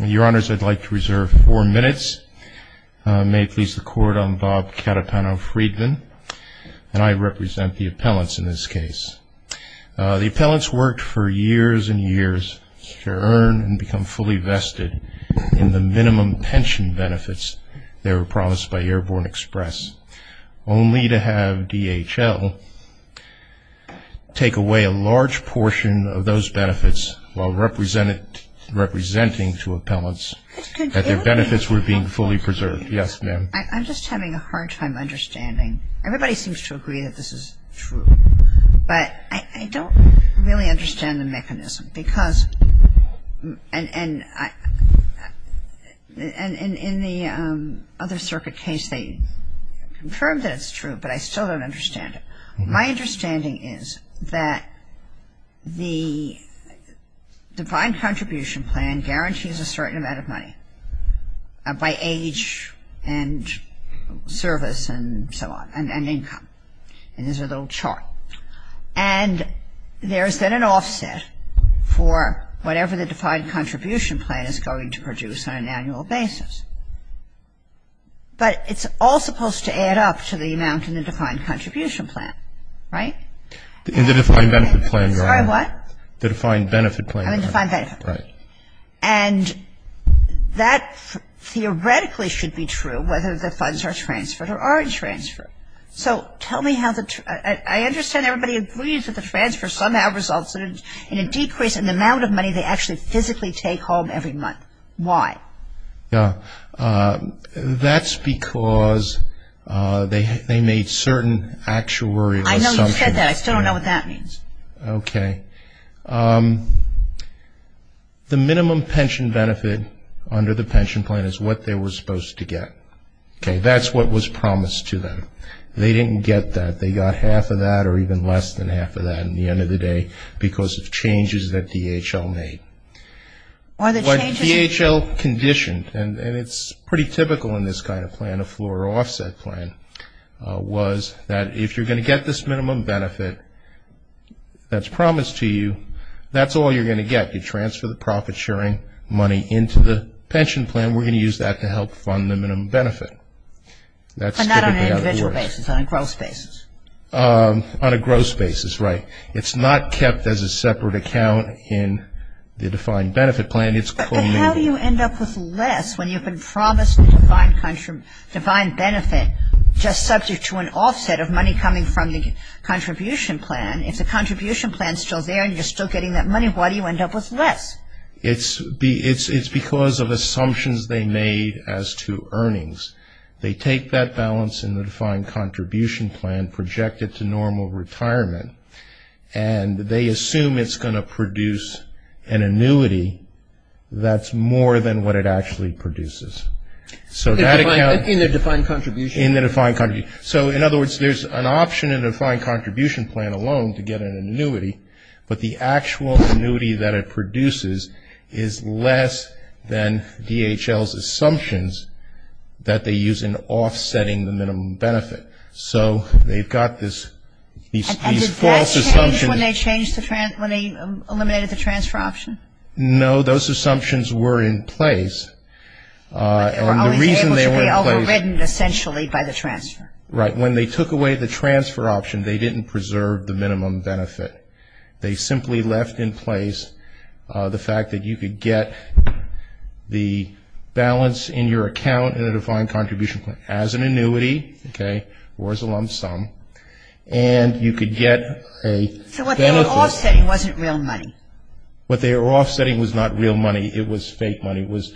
Your Honors, I'd like to reserve four minutes. May it please the Court, I'm Bob Cattapano-Freedman, and I represent the appellants in this case. The appellants worked for years and years to earn and become fully vested in the minimum pension benefits they were promised by Airborne Express, only to have DHL take away a large portion of those benefits while representing to appellants that their benefits were being fully preserved. Yes, ma'am. I'm just having a hard time understanding. Everybody seems to agree that this is true. But I don't really understand the mechanism because, and in the other circuit case they confirmed that it's true, but I still don't understand it. My understanding is that the Defined Contribution Plan guarantees a certain amount of money by age and service and so on, and income. And there's a little chart. And there's then an offset for whatever the Defined Contribution Plan is going to produce on an annual basis. But it's all supposed to add up to the amount in the Defined Contribution Plan, right? In the Defined Benefit Plan, Your Honor. Sorry, what? The Defined Benefit Plan. Oh, the Defined Benefit Plan. Right. And that theoretically should be true whether the funds are transferred or aren't transferred. So tell me how the, I understand everybody agrees that the transfer somehow results in a decrease in the amount of money they actually physically take home every month. Why? Yeah, that's because they made certain actuary assumptions. I know you said that. I still don't know what that means. Okay. The minimum pension benefit under the pension plan is what they were supposed to get. Okay, that's what was promised to them. They didn't get that. They got half of that or even less than half of that in the end of the day because of changes that DHL made. But DHL conditioned, and it's pretty typical in this kind of plan, a floor offset plan, was that if you're going to get this minimum benefit that's promised to you, that's all you're going to get. You transfer the profit-sharing money into the pension plan. We're going to use that to help fund the minimum benefit. But not on an individual basis, on a gross basis. On a gross basis, right. It's not kept as a separate account in the defined benefit plan. But how do you end up with less when you've been promised a defined benefit just subject to an offset of money coming from the contribution plan? If the contribution plan is still there and you're still getting that money, why do you end up with less? It's because of assumptions they made as to earnings. They take that balance in the defined contribution plan, project it to normal retirement, and they assume it's going to produce an annuity that's more than what it actually produces. In the defined contribution? In the defined contribution. So, in other words, there's an option in the defined contribution plan alone to get an annuity, but the actual annuity that it produces is less than DHL's assumptions that they use in offsetting the minimum benefit. So they've got these false assumptions. And did that change when they eliminated the transfer option? No, those assumptions were in place. But they were always able to be overridden, essentially, by the transfer. Right. But when they took away the transfer option, they didn't preserve the minimum benefit. They simply left in place the fact that you could get the balance in your account in a defined contribution plan as an annuity, okay, or as a lump sum, and you could get a benefit. So what they were offsetting wasn't real money? What they were offsetting was not real money. It was fake money. It was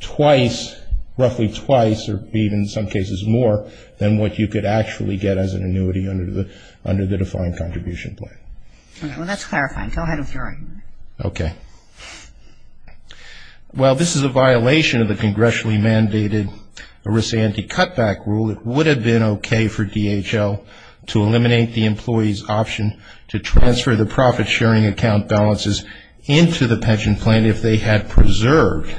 twice, roughly twice, or even in some cases more, than what you could actually get as an annuity under the defined contribution plan. All right. Well, that's clarifying. Go ahead with your argument. Okay. While this is a violation of the congressionally mandated risk-anti-cutback rule, it would have been okay for DHL to eliminate the employee's option to transfer the profit-sharing account balances into the pension plan if they had preserved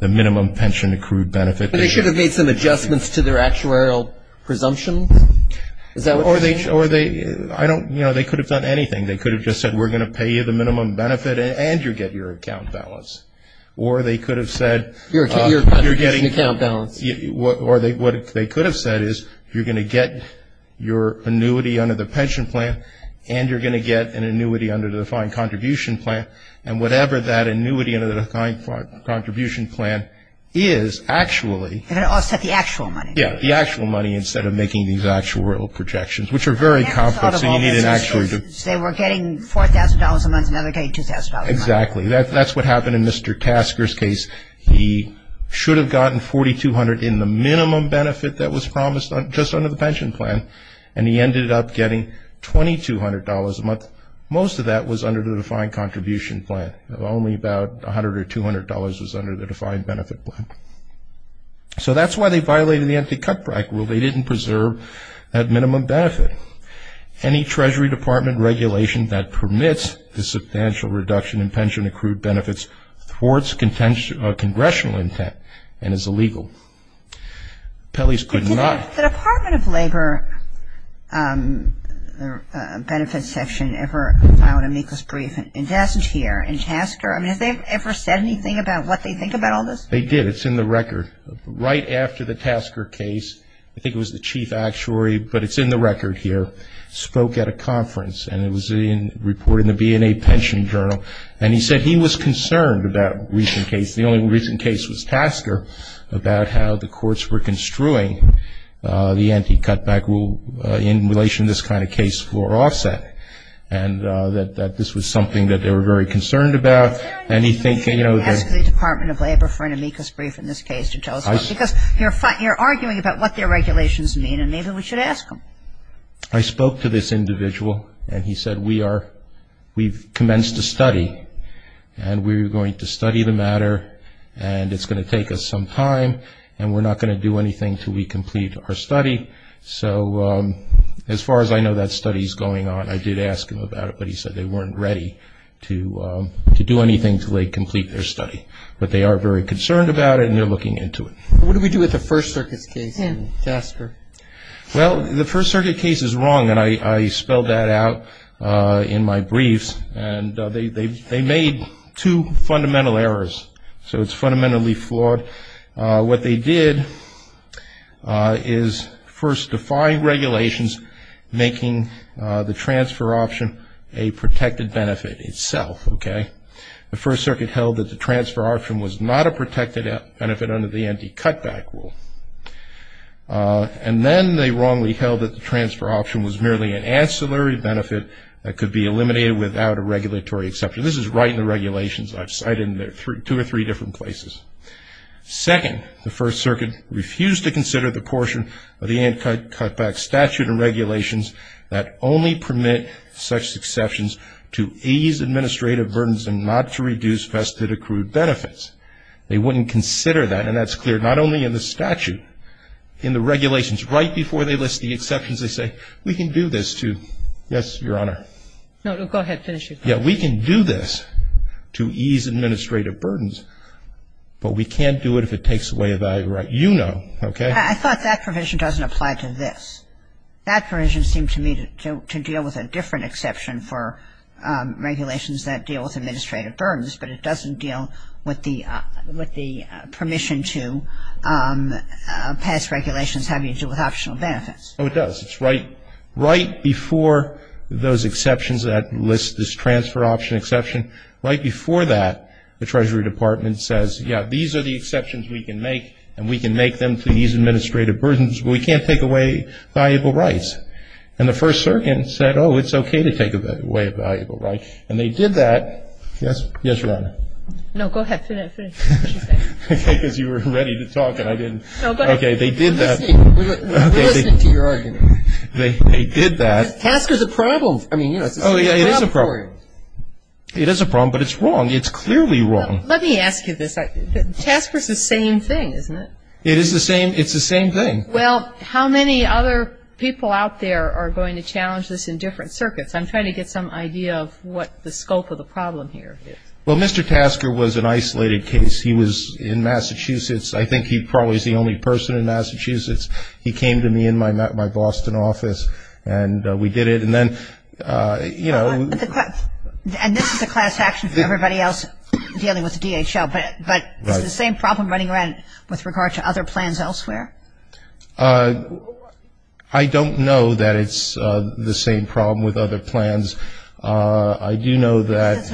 the minimum pension accrued benefit. But they should have made some adjustments to their actuarial presumptions. Is that what you're saying? Or they could have done anything. They could have just said, we're going to pay you the minimum benefit, and you'll get your account balance. Or they could have said you're getting the account balance. Or what they could have said is you're going to get your annuity under the pension plan, and you're going to get an annuity under the defined contribution plan. And whatever that annuity under the defined contribution plan is, actually. They're going to offset the actual money. Yeah, the actual money instead of making these actuarial projections, which are very complex. They were getting $4,000 a month, and now they're getting $2,000 a month. Exactly. That's what happened in Mr. Tasker's case. He should have gotten $4,200 in the minimum benefit that was promised just under the pension plan, and he ended up getting $2,200 a month. Most of that was under the defined contribution plan. Only about $100 or $200 was under the defined benefit plan. So that's why they violated the empty cutback rule. They didn't preserve that minimum benefit. Any Treasury Department regulation that permits the substantial reduction in pension accrued benefits thwarts congressional intent and is illegal. Pelley's could not. Did the Department of Labor Benefits Section ever file an amicus brief? It doesn't here. And Tasker, I mean, have they ever said anything about what they think about all this? They did. It's in the record. Right after the Tasker case, I think it was the chief actuary, but it's in the record here, spoke at a conference, and it was reported in the B&A Pension Journal. And he said he was concerned about a recent case. The only recent case was Tasker about how the courts were construing the empty cutback rule in relation to this kind of case floor offset, and that this was something that they were very concerned about. And he's thinking, you know, Ask the Department of Labor for an amicus brief in this case to tell us. Because you're arguing about what their regulations mean, and maybe we should ask them. I spoke to this individual, and he said, We've commenced a study, and we're going to study the matter, and it's going to take us some time, and we're not going to do anything until we complete our study. So as far as I know that study is going on, I did ask him about it, but he said they weren't ready to do anything until they complete their study. But they are very concerned about it, and they're looking into it. What do we do with the First Circuit's case in Tasker? Well, the First Circuit case is wrong, and I spelled that out in my briefs. And they made two fundamental errors. So it's fundamentally flawed. What they did is first defy regulations, making the transfer option a protected benefit itself, okay? The First Circuit held that the transfer option was not a protected benefit under the empty cutback rule. And then they wrongly held that the transfer option was merely an ancillary benefit that could be eliminated without a regulatory exception. This is right in the regulations I've cited in two or three different places. Second, the First Circuit refused to consider the portion of the empty cutback statute and regulations that only permit such exceptions to ease administrative burdens and not to reduce vested accrued benefits. They wouldn't consider that. And that's clear not only in the statute, in the regulations. Right before they list the exceptions, they say, we can do this to, yes, Your Honor? No, go ahead, finish your question. Yeah, we can do this to ease administrative burdens, but we can't do it if it takes away a value, right? You know, okay? I thought that provision doesn't apply to this. That provision seemed to me to deal with a different exception for regulations that deal with administrative burdens, but it doesn't deal with the permission to pass regulations having to do with optional benefits. Oh, it does. It's right before those exceptions that list this transfer option exception. Right before that, the Treasury Department says, yeah, these are the exceptions we can make, and we can make them to ease administrative burdens, but we can't take away valuable rights. And the First Circuit said, oh, it's okay to take away a valuable right. And they did that. Yes, Your Honor? No, go ahead, finish. Okay, because you were ready to talk and I didn't. Okay, they did that. We're listening to your argument. They did that. Tasker's a problem. Oh, yeah, it is a problem. It is a problem, but it's wrong. It's clearly wrong. Let me ask you this. Tasker's the same thing, isn't it? It is the same. It's the same thing. Well, how many other people out there are going to challenge this in different circuits? I'm trying to get some idea of what the scope of the problem here is. Well, Mr. Tasker was an isolated case. He was in Massachusetts. I think he probably is the only person in Massachusetts. He came to me in my Boston office, and we did it. And then, you know. And this is a class action for everybody else dealing with DHL, but it's the same problem running around with regard to other plans elsewhere? I don't know that it's the same problem with other plans. I do know that.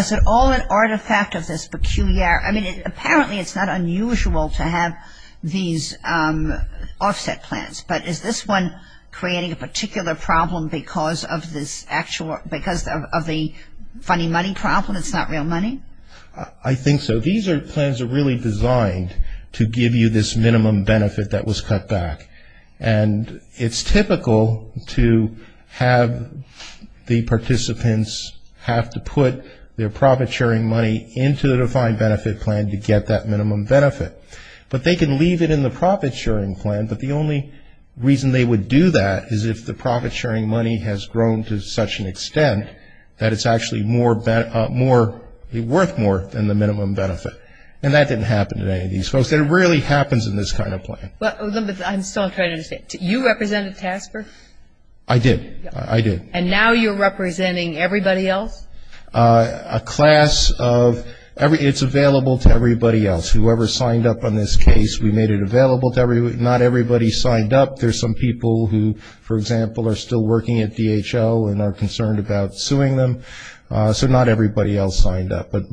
Is it all an artifact of this peculiar? I mean, apparently it's not unusual to have these offset plans, but is this one creating a particular problem because of this actual ‑‑ because of the funny money problem, it's not real money? I think so. These plans are really designed to give you this minimum benefit that was cut back. And it's typical to have the participants have to put their profit sharing money into the defined benefit plan to get that minimum benefit. But they can leave it in the profit sharing plan, but the only reason they would do that is if the profit sharing money has grown to such an extent that it's actually worth more than the minimum benefit. And that didn't happen to any of these folks. It rarely happens in this kind of plan. I'm still trying to understand. You represented Tasker? I did. I did. And now you're representing everybody else? A class of ‑‑ it's available to everybody else. Whoever signed up on this case, we made it available to everybody. Not everybody signed up. There's some people who, for example, are still working at DHL and are concerned about suing them. So not everybody else signed up. But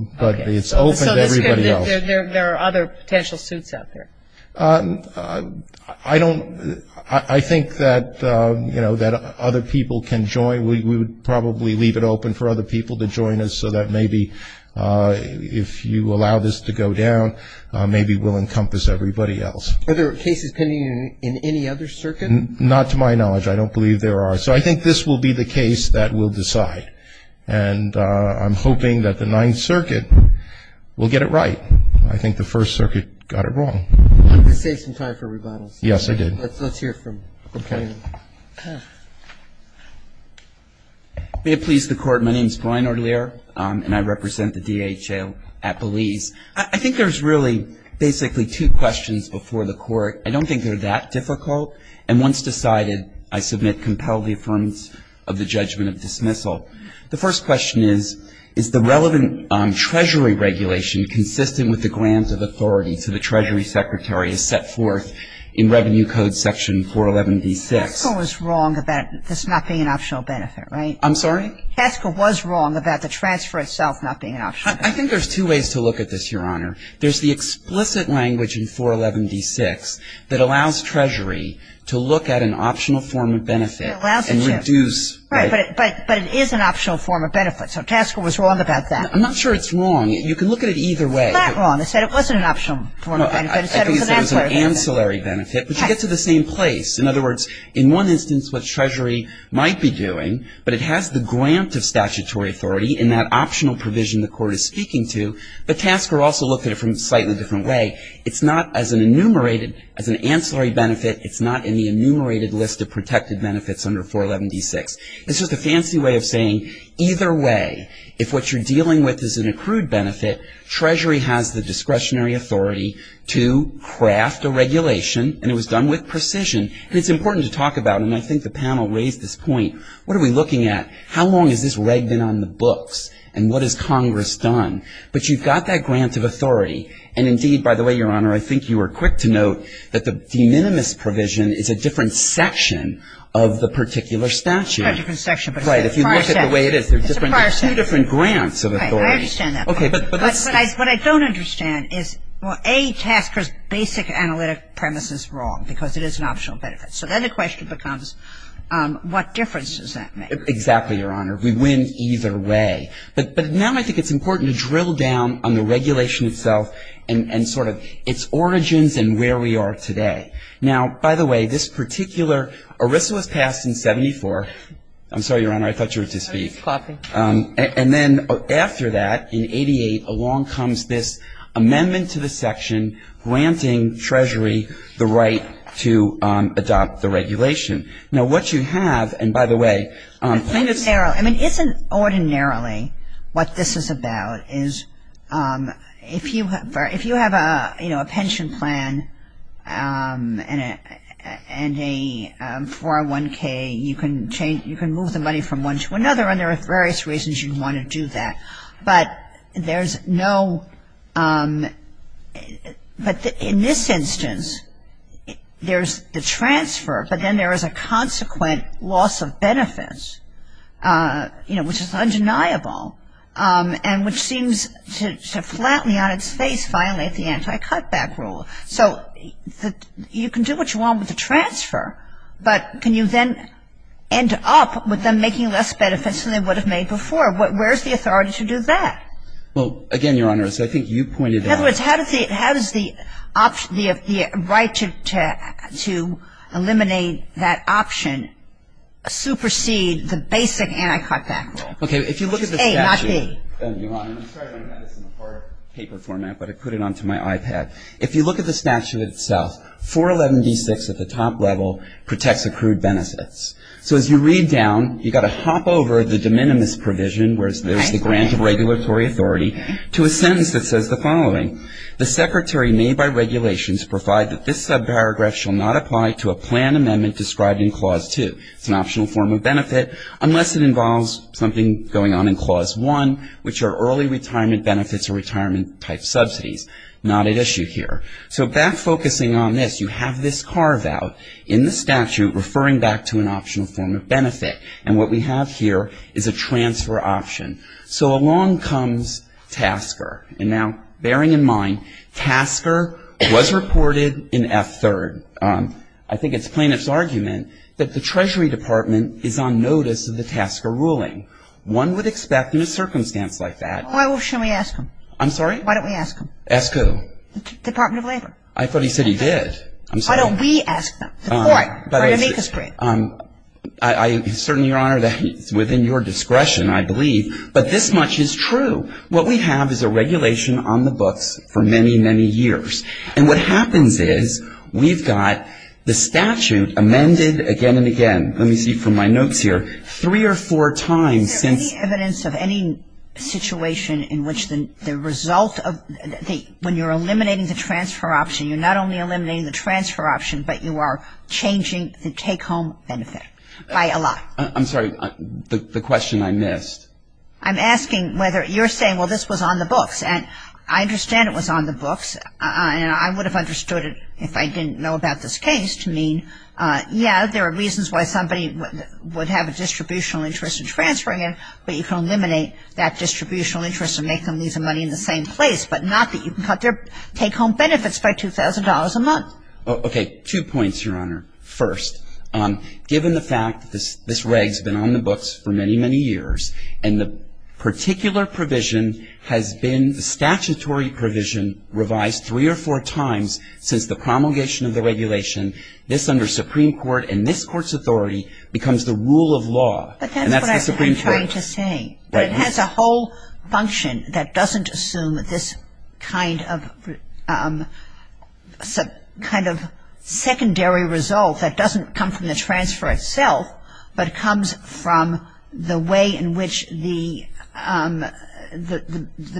it's open to everybody else. So there are other potential suits out there? I don't ‑‑ I think that, you know, that other people can join. We would probably leave it open for other people to join us so that maybe if you allow this to go down, maybe we'll encompass everybody else. Are there cases pending in any other circuit? Not to my knowledge. I don't believe there are. So I think this will be the case that will decide. And I'm hoping that the Ninth Circuit will get it right. I think the First Circuit got it wrong. You could save some time for rebuttals. Yes, I did. Let's hear from Brian. May it please the Court, my name is Brian Audelier, and I represent the DHL at Belize. I think there's really basically two questions before the Court. I don't think they're that difficult. And once decided, I submit, compel the affirmation of the judgment of dismissal. The first question is, is the relevant Treasury regulation consistent with the grants of authority to the Treasury Secretary as set forth in Revenue Code section 411B6? Haskell was wrong about this not being an optional benefit, right? I'm sorry? Haskell was wrong about the transfer itself not being an optional benefit. I think there's two ways to look at this, Your Honor. There's the explicit language in 411B6 that allows Treasury to look at an optional form of benefit. It allows it to. And reduce. Right, but it is an optional form of benefit. So Haskell was wrong about that. I'm not sure it's wrong. You can look at it either way. It's not wrong. It said it wasn't an optional form of benefit. It said it was an ancillary benefit. I think it said it was an ancillary benefit. But you get to the same place. In other words, in one instance what Treasury might be doing, but it has the grant of statutory authority in that optional provision the court is speaking to. But Tasker also looked at it from a slightly different way. It's not as an enumerated, as an ancillary benefit. It's not in the enumerated list of protected benefits under 411B6. It's just a fancy way of saying either way, if what you're dealing with is an accrued benefit, Treasury has the discretionary authority to craft a regulation. And it was done with precision. And it's important to talk about, and I think the panel raised this point. What are we looking at? How long is this ragged in on the books? And what has Congress done? But you've got that grant of authority. And, indeed, by the way, Your Honor, I think you were quick to note that the de minimis provision is a different section of the particular statute. Kagan. A different section. But it's a prior section. It's a prior section. It's a few different grants of authority. I understand that. But what I don't understand is, well, A, Tasker's basic analytic premise is wrong, because it is an optional benefit. So then the question becomes what difference does that make? Exactly, Your Honor. We win either way. But now I think it's important to drill down on the regulation itself and sort of its origins and where we are today. Now, by the way, this particular, ERISA was passed in 74. I'm sorry, Your Honor, I thought you were to speak. I was clapping. And then after that, in 88, along comes this amendment to the section granting Treasury the right to adopt the regulation. Now, what you have, and by the way, I mean, isn't ordinarily what this is about is if you have a pension plan and a 401K, you can move the money from one to another, and there are various reasons you want to do that. But there's no – but in this instance, there's the transfer, but then there is a consequent loss of benefits, you know, which is undeniable and which seems to flatly on its face violate the anti-cutback rule. So you can do what you want with the transfer, but can you then end up with them making less benefits than they would have made before? Where's the authority to do that? Well, again, Your Honor, as I think you pointed out – In other words, how does the right to eliminate that option supersede the basic anti-cutback rule? Okay. If you look at the statute – A, not B. Your Honor, I'm sorry my pen is in a hard paper format, but I put it onto my iPad. If you look at the statute itself, 411D6 at the top level protects accrued benefits. So as you read down, you've got to hop over the de minimis provision, where there's the grant of regulatory authority, to a sentence that says the following. The secretary made by regulations provide that this subparagraph shall not apply to a plan amendment described in Clause 2. It's an optional form of benefit unless it involves something going on in Clause 1, which are early retirement benefits or retirement-type subsidies. Not at issue here. So back focusing on this, you have this carve-out in the statute referring back to an optional form of benefit. And what we have here is a transfer option. So along comes Tasker. And now bearing in mind, Tasker was reported in F3rd. I think it's plaintiff's argument that the Treasury Department is on notice of the Tasker ruling. One would expect in a circumstance like that – Why don't we ask them? I'm sorry? Why don't we ask them? Ask who? The Department of Labor. I thought he said he did. I'm sorry. Why don't we ask them? The court. But I certainly, Your Honor, that's within your discretion, I believe. But this much is true. What we have is a regulation on the books for many, many years. And what happens is we've got the statute amended again and again. Let me see from my notes here. Three or four times since – When you're eliminating the transfer option, you're not only eliminating the transfer option, but you are changing the take-home benefit by a lot. I'm sorry. The question I missed. I'm asking whether you're saying, well, this was on the books. And I understand it was on the books. I would have understood it if I didn't know about this case to mean, yeah, there are reasons why somebody would have a distributional interest in transferring it, but you can eliminate that distributional interest and make them lose the money in the same place, but not that you can cut their take-home benefits by $2,000 a month. Okay. Two points, Your Honor. First, given the fact that this reg has been on the books for many, many years, and the particular provision has been the statutory provision revised three or four times since the promulgation of the regulation, this under Supreme Court and this Court's authority becomes the rule of law. And that's the Supreme Court. But that's what I'm trying to say. But it has a whole function that doesn't assume this kind of secondary result that doesn't come from the transfer itself, but comes from the way in which the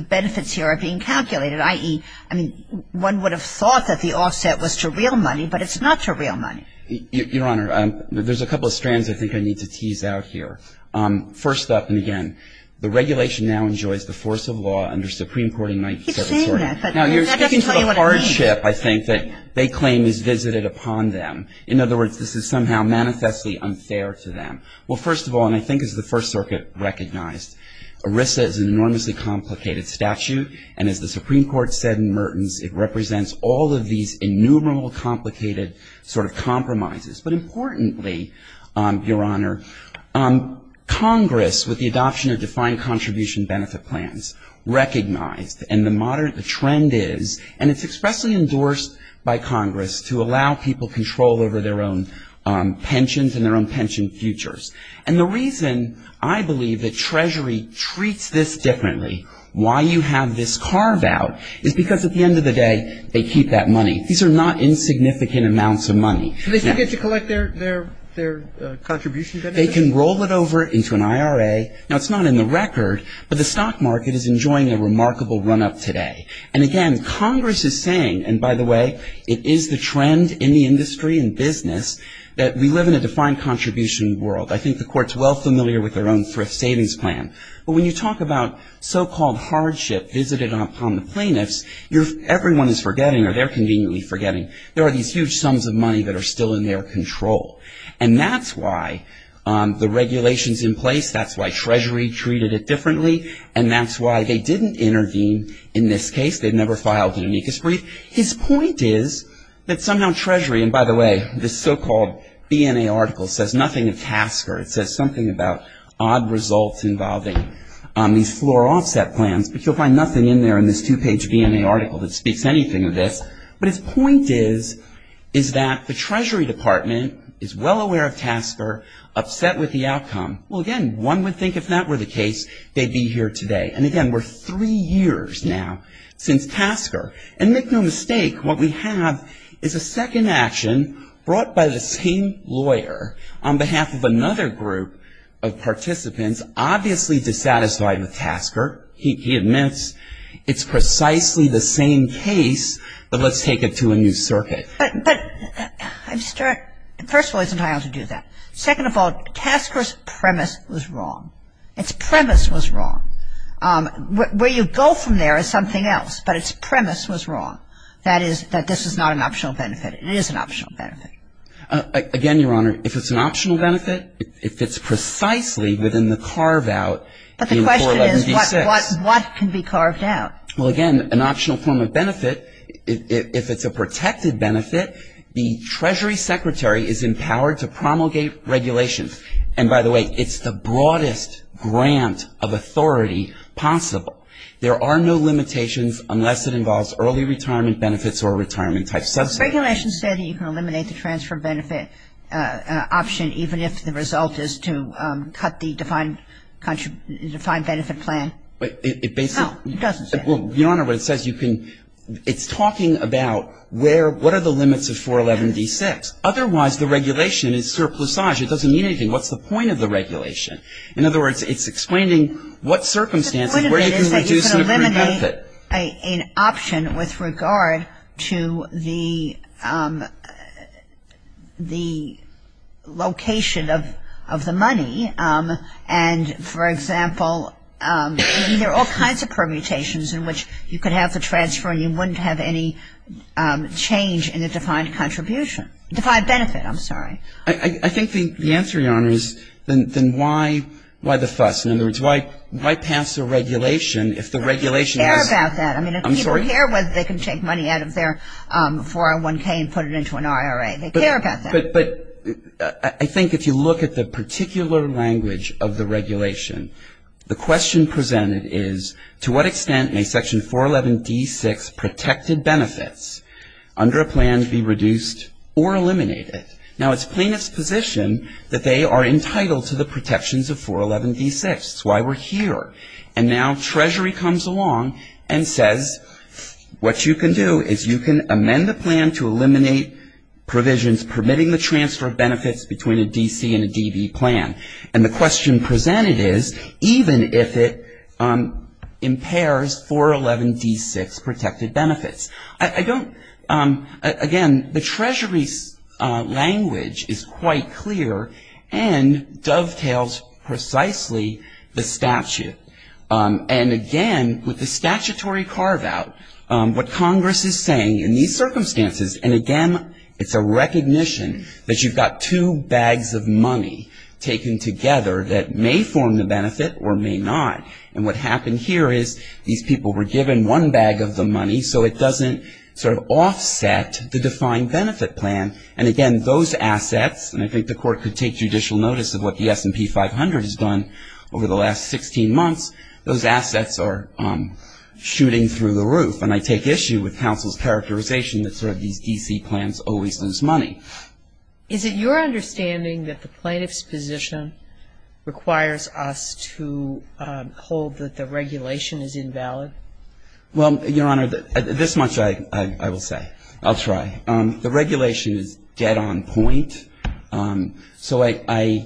benefits here are being calculated, i.e., I mean, one would have thought that the offset was to real money, but it's not to real money. Your Honor, there's a couple of strands I think I need to tease out here. First up, and again, the regulation now enjoys the force of law under Supreme Court in 1974. Now, you're speaking to the hardship, I think, that they claim is visited upon them. In other words, this is somehow manifestly unfair to them. Well, first of all, and I think as the First Circuit recognized, ERISA is an enormously complicated statute, and as the Supreme Court said in Mertens, it represents all of these innumerable complicated sort of compromises. But importantly, Your Honor, Congress, with the adoption of defined contribution benefit plans, recognized, and the trend is, and it's expressly endorsed by Congress, to allow people control over their own pensions and their own pension futures. And the reason I believe that Treasury treats this differently, why you have this carve out, is because at the end of the day, they keep that money. These are not insignificant amounts of money. So they still get to collect their contribution benefit? They can roll it over into an IRA. Now, it's not in the record, but the stock market is enjoying a remarkable run-up today. And again, Congress is saying, and by the way, it is the trend in the industry and business that we live in a defined contribution world. I think the Court's well familiar with their own thrift savings plan. But when you talk about so-called hardship visited upon the plaintiffs, everyone is forgetting, or they're conveniently forgetting, there are these huge sums of money that are still in their control. And that's why the regulations in place, that's why Treasury treated it differently, and that's why they didn't intervene in this case. They never filed an amicus brief. His point is that somehow Treasury, and by the way, this so-called BNA article says nothing of Tasker. It says something about odd results involving these floor offset plans, but you'll find nothing in there in this two-page BNA article that speaks anything of this. But his point is that the Treasury Department is well aware of Tasker, upset with the outcome. Well, again, one would think if that were the case, they'd be here today. And again, we're three years now since Tasker. And make no mistake, what we have is a second action brought by the same lawyer on behalf of another group of participants, obviously dissatisfied with Tasker. He admits it's precisely the same case, but let's take it to a new circuit. But I'm starting, first of all, he doesn't have to do that. Second of all, Tasker's premise was wrong. Its premise was wrong. Where you go from there is something else, but its premise was wrong, that is that this is not an optional benefit. It is an optional benefit. Again, Your Honor, if it's an optional benefit, if it's precisely within the carve-out in 411B6. But the question is what can be carved out? Well, again, an optional form of benefit, if it's a protected benefit, the Treasury Secretary is empowered to promulgate regulations. And by the way, it's the broadest grant of authority possible. There are no limitations unless it involves early retirement benefits or retirement-type subsidies. Regulations say that you can eliminate the transfer benefit option, even if the result is to cut the defined benefit plan. It basically -- No, it doesn't say that. Well, Your Honor, what it says, you can, it's talking about where, what are the limits of 411B6. Otherwise, the regulation is surplusage. It doesn't mean anything. What's the point of the regulation? In other words, it's explaining what circumstances where you can reduce the benefit. An option with regard to the location of the money. And, for example, there are all kinds of permutations in which you could have the transfer and you wouldn't have any change in the defined contribution, defined benefit, I'm sorry. I think the answer, Your Honor, is then why the fuss? In other words, why pass a regulation if the regulation is- They care about that. I'm sorry. I mean, people care whether they can take money out of their 401K and put it into an IRA. They care about that. But I think if you look at the particular language of the regulation, the question presented is to what extent may Section 411D6 protected benefits under a plan be reduced or eliminated? Now, it's plaintiff's position that they are entitled to the protections of 411D6. That's why we're here. And now Treasury comes along and says what you can do is you can amend the plan to eliminate provisions permitting the transfer of benefits between a DC and a DV plan. And the question presented is even if it impairs 411D6 protected benefits. I don't, again, the Treasury's language is quite clear and dovetails precisely the statute. And again, with the statutory carve-out, what Congress is saying in these circumstances, and again, it's a recognition that you've got two bags of money taken together that may form the benefit or may not. And what happened here is these people were given one bag of the money, so it doesn't sort of offset the defined benefit plan. And again, those assets, and I think the Court could take judicial notice of what the S&P 500 has done over the last 16 months, those assets are shooting through the roof. And I take issue with counsel's characterization that sort of these DC plans always lose money. Is it your understanding that the plaintiff's position requires us to hold that the regulation is invalid? Well, Your Honor, this much I will say. I'll try. The regulation is dead on point. So I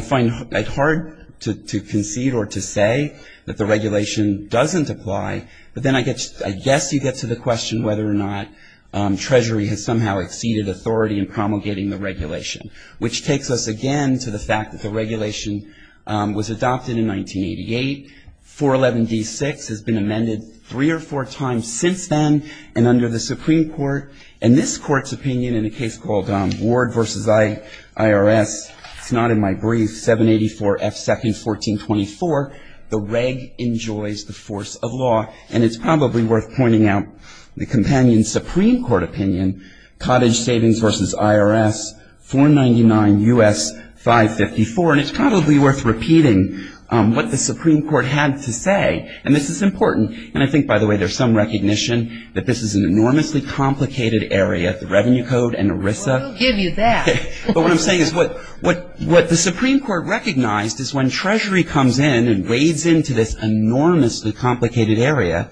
find it hard to concede or to say that the regulation doesn't apply, but then I guess you get to the question whether or not Treasury has somehow exceeded authority in promulgating the regulation, which takes us again to the fact that the regulation was adopted in 1988. 411D6 has been amended three or four times since then, and under the Supreme Court, and this Court's opinion in a case called Ward v. IRS, it's not in my brief, 784F2nd 1424, the reg enjoys the force of law. And it's probably worth pointing out the companion Supreme Court opinion, Cottage Savings v. IRS, 499 U.S. 554. And it's probably worth repeating what the Supreme Court had to say, and this is important. And I think, by the way, there's some recognition that this is an enormously complicated area, the Revenue Code and ERISA. Well, we'll give you that. But what I'm saying is what the Supreme Court recognized is when Treasury comes in and wades into this enormously complicated area,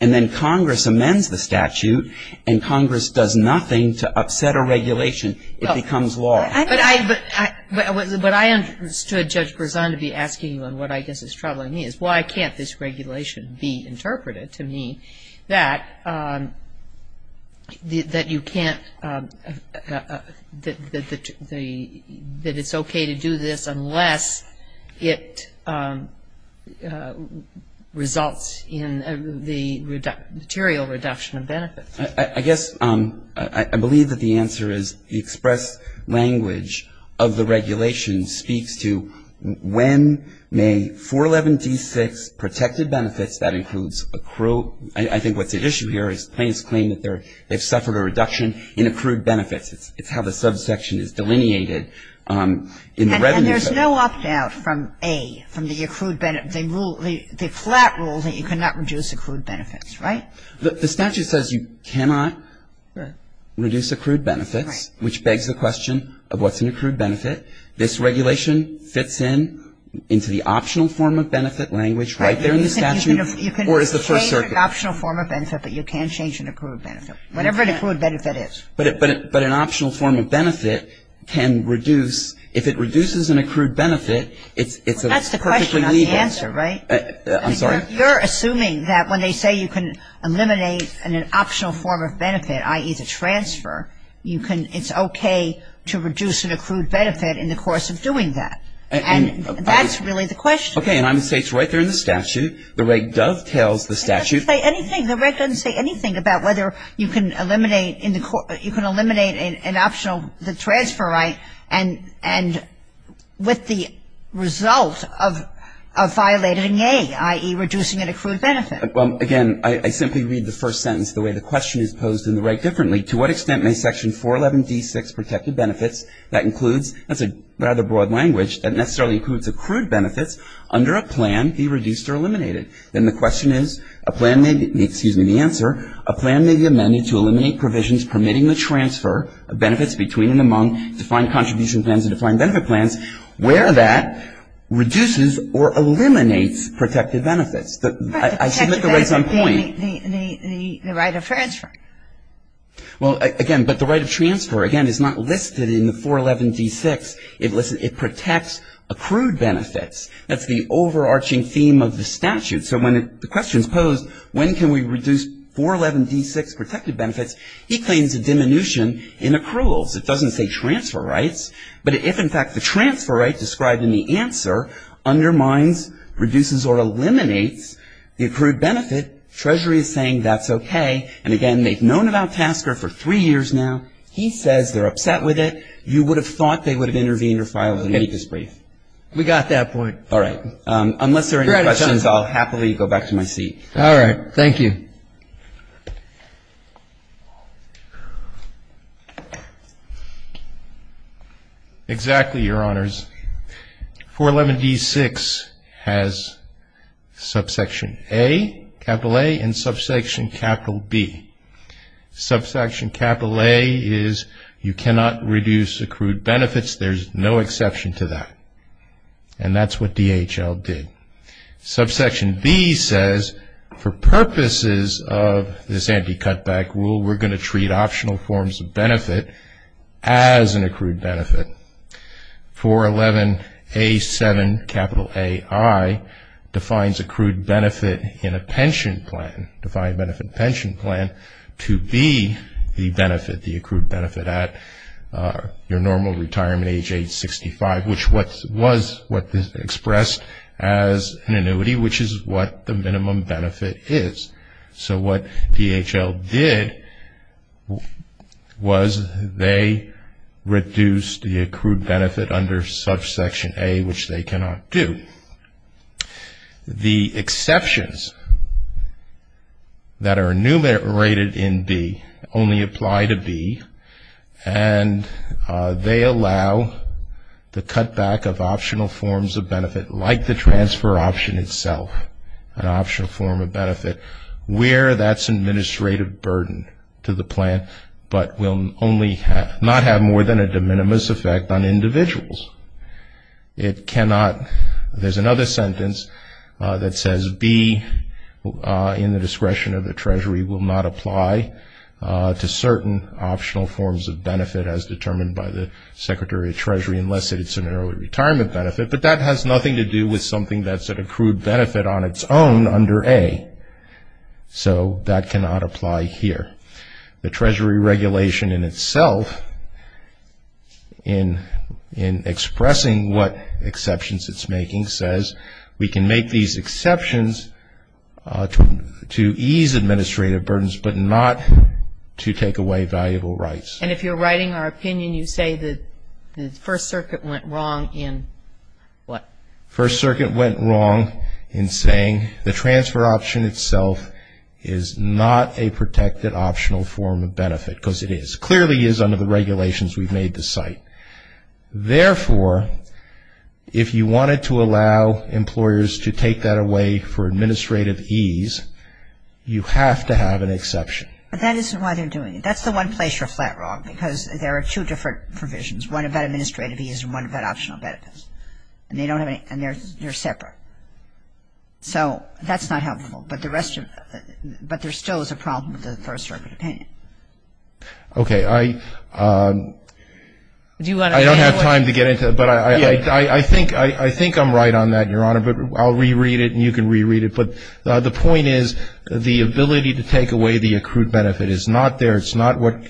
and then Congress amends the statute, and Congress does nothing to upset a regulation, it becomes law. But I understood Judge Berzon to be asking you on what I guess is troubling me, is why can't this regulation be interpreted to mean that you can't, that it's okay to do this unless it results in the material reduction of benefits? I guess I believe that the answer is the express language of the regulation speaks to when may 411D6 protected benefits, that includes accrual. I think what's at issue here is plaintiffs claim that they've suffered a reduction in accrued benefits. It's how the subsection is delineated in the Revenue Code. And there's no opt-out from A, from the accrued benefits. They flat rule that you cannot reduce accrued benefits, right? The statute says you cannot reduce accrued benefits, which begs the question of what's an accrued benefit. This regulation fits in into the optional form of benefit language right there in the statute, or is the first circuit? You can change an optional form of benefit, but you can't change an accrued benefit, whatever an accrued benefit is. But an optional form of benefit can reduce, if it reduces an accrued benefit, it's perfectly legal. That's the question, not the answer, right? I'm sorry. You're assuming that when they say you can eliminate an optional form of benefit, i.e., the transfer, it's okay to reduce an accrued benefit in the course of doing that. And that's really the question. Okay. And I'm going to say it's right there in the statute. The Reg dovetails the statute. It doesn't say anything. The Reg doesn't say anything about whether you can eliminate an optional, the transfer right, and with the result of violating A, i.e., reducing an accrued benefit. Well, again, I simply read the first sentence the way the question is posed in the Reg differently. To what extent may Section 411D6, protected benefits, that includes, that's a rather broad language, that necessarily includes accrued benefits under a plan be reduced or eliminated? Then the question is, a plan may be, excuse me, the answer, a plan may be amended to eliminate provisions permitting the transfer of benefits between and among defined contribution plans and defined benefit plans where that reduces or eliminates protected benefits. I should make the raise on point. The right of transfer. Well, again, but the right of transfer, again, is not listed in the 411D6. It protects accrued benefits. That's the overarching theme of the statute. So when the question is posed, when can we reduce 411D6 protected benefits, he claims a diminution in accruals. It doesn't say transfer rights. But if, in fact, the transfer right described in the answer undermines, reduces, or eliminates the accrued benefit, Treasury is saying that's okay. And, again, they've known about Tasker for three years now. He says they're upset with it. You would have thought they would have intervened or filed a notice brief. We got that point. All right. Unless there are any questions, I'll happily go back to my seat. All right. Thank you. Exactly, Your Honors. 411D6 has subsection A, capital A, and subsection capital B. Subsection capital A is you cannot reduce accrued benefits. There's no exception to that. And that's what DHL did. Subsection B says for purposes of this anti-cutback rule, we're going to treat optional forms of benefit as an accrued benefit. 411A7, capital AI, defines accrued benefit in a pension plan, defined benefit pension plan, to be the benefit, the accrued benefit, at your normal retirement age, age 65, which was what is expressed as an annuity, which is what the minimum benefit is. So what DHL did was they reduced the accrued benefit under subsection A, which they cannot do. The exceptions that are enumerated in B only apply to B, and they allow the cutback of optional forms of benefit, like the transfer option itself, an optional form of benefit, where that's an administrative burden to the plan, but will not have more than a de minimis effect on individuals. It cannot, there's another sentence that says B, in the discretion of the Treasury, will not apply to certain optional forms of benefit as determined by the Secretary of Treasury, unless it's an early retirement benefit, but that has nothing to do with something that's an accrued benefit on its own under A. So that cannot apply here. The Treasury regulation in itself, in expressing what exceptions it's making, says we can make these exceptions to ease administrative burdens, but not to take away valuable rights. And if you're writing our opinion, you say the First Circuit went wrong in what? First Circuit went wrong in saying the transfer option itself is not a protected optional form of benefit, because it clearly is under the regulations we've made to cite. Therefore, if you wanted to allow employers to take that away for administrative ease, you have to have an exception. But that isn't why they're doing it. That's the one place you're flat wrong, because there are two different provisions, one about administrative ease and one about optional benefits, and they're separate. So that's not helpful, but there still is a problem with the First Circuit opinion. Okay, I don't have time to get into it, but I think I'm right on that, Your Honor, but I'll reread it and you can reread it. But the point is the ability to take away the accrued benefit is not there. It's not what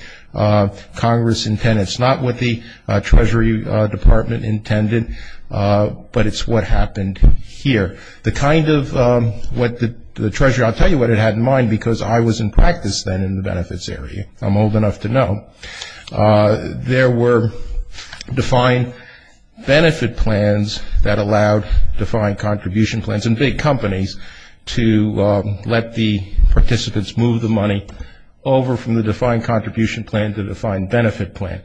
Congress intended. It's not what the Treasury Department intended, but it's what happened here. The kind of what the Treasury, I'll tell you what it had in mind, because I was in practice then in the benefits area. I'm old enough to know. There were defined benefit plans that allowed defined contribution plans in big companies to let the participants move the money over from the defined contribution plan to the defined benefit plan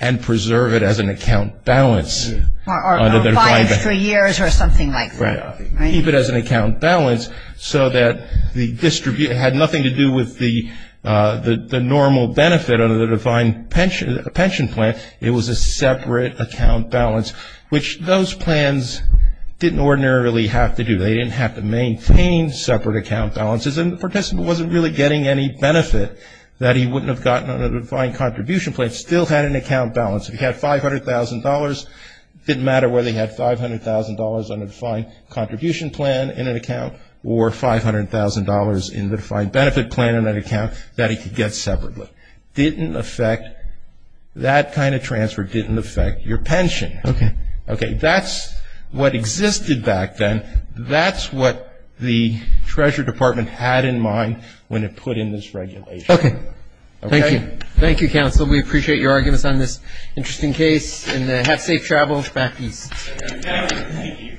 and preserve it as an account balance. Or a balance for years or something like that. Keep it as an account balance so that the distribution had nothing to do with the normal benefit under the defined pension plan. It was a separate account balance, which those plans didn't ordinarily have to do. They didn't have to maintain separate account balances, and the participant wasn't really getting any benefit that he wouldn't have gotten under the defined contribution plan. Still had an account balance. If he had $500,000, didn't matter whether he had $500,000 under the defined contribution plan in an account or $500,000 in the defined benefit plan in an account that he could get separately. Didn't affect, that kind of transfer didn't affect your pension. Okay. That's what existed back then. That's what the Treasury Department had in mind when it put in this regulation. Okay. Thank you. Thank you, counsel. We appreciate your arguments on this interesting case. And have safe travels. Back east. Thank you.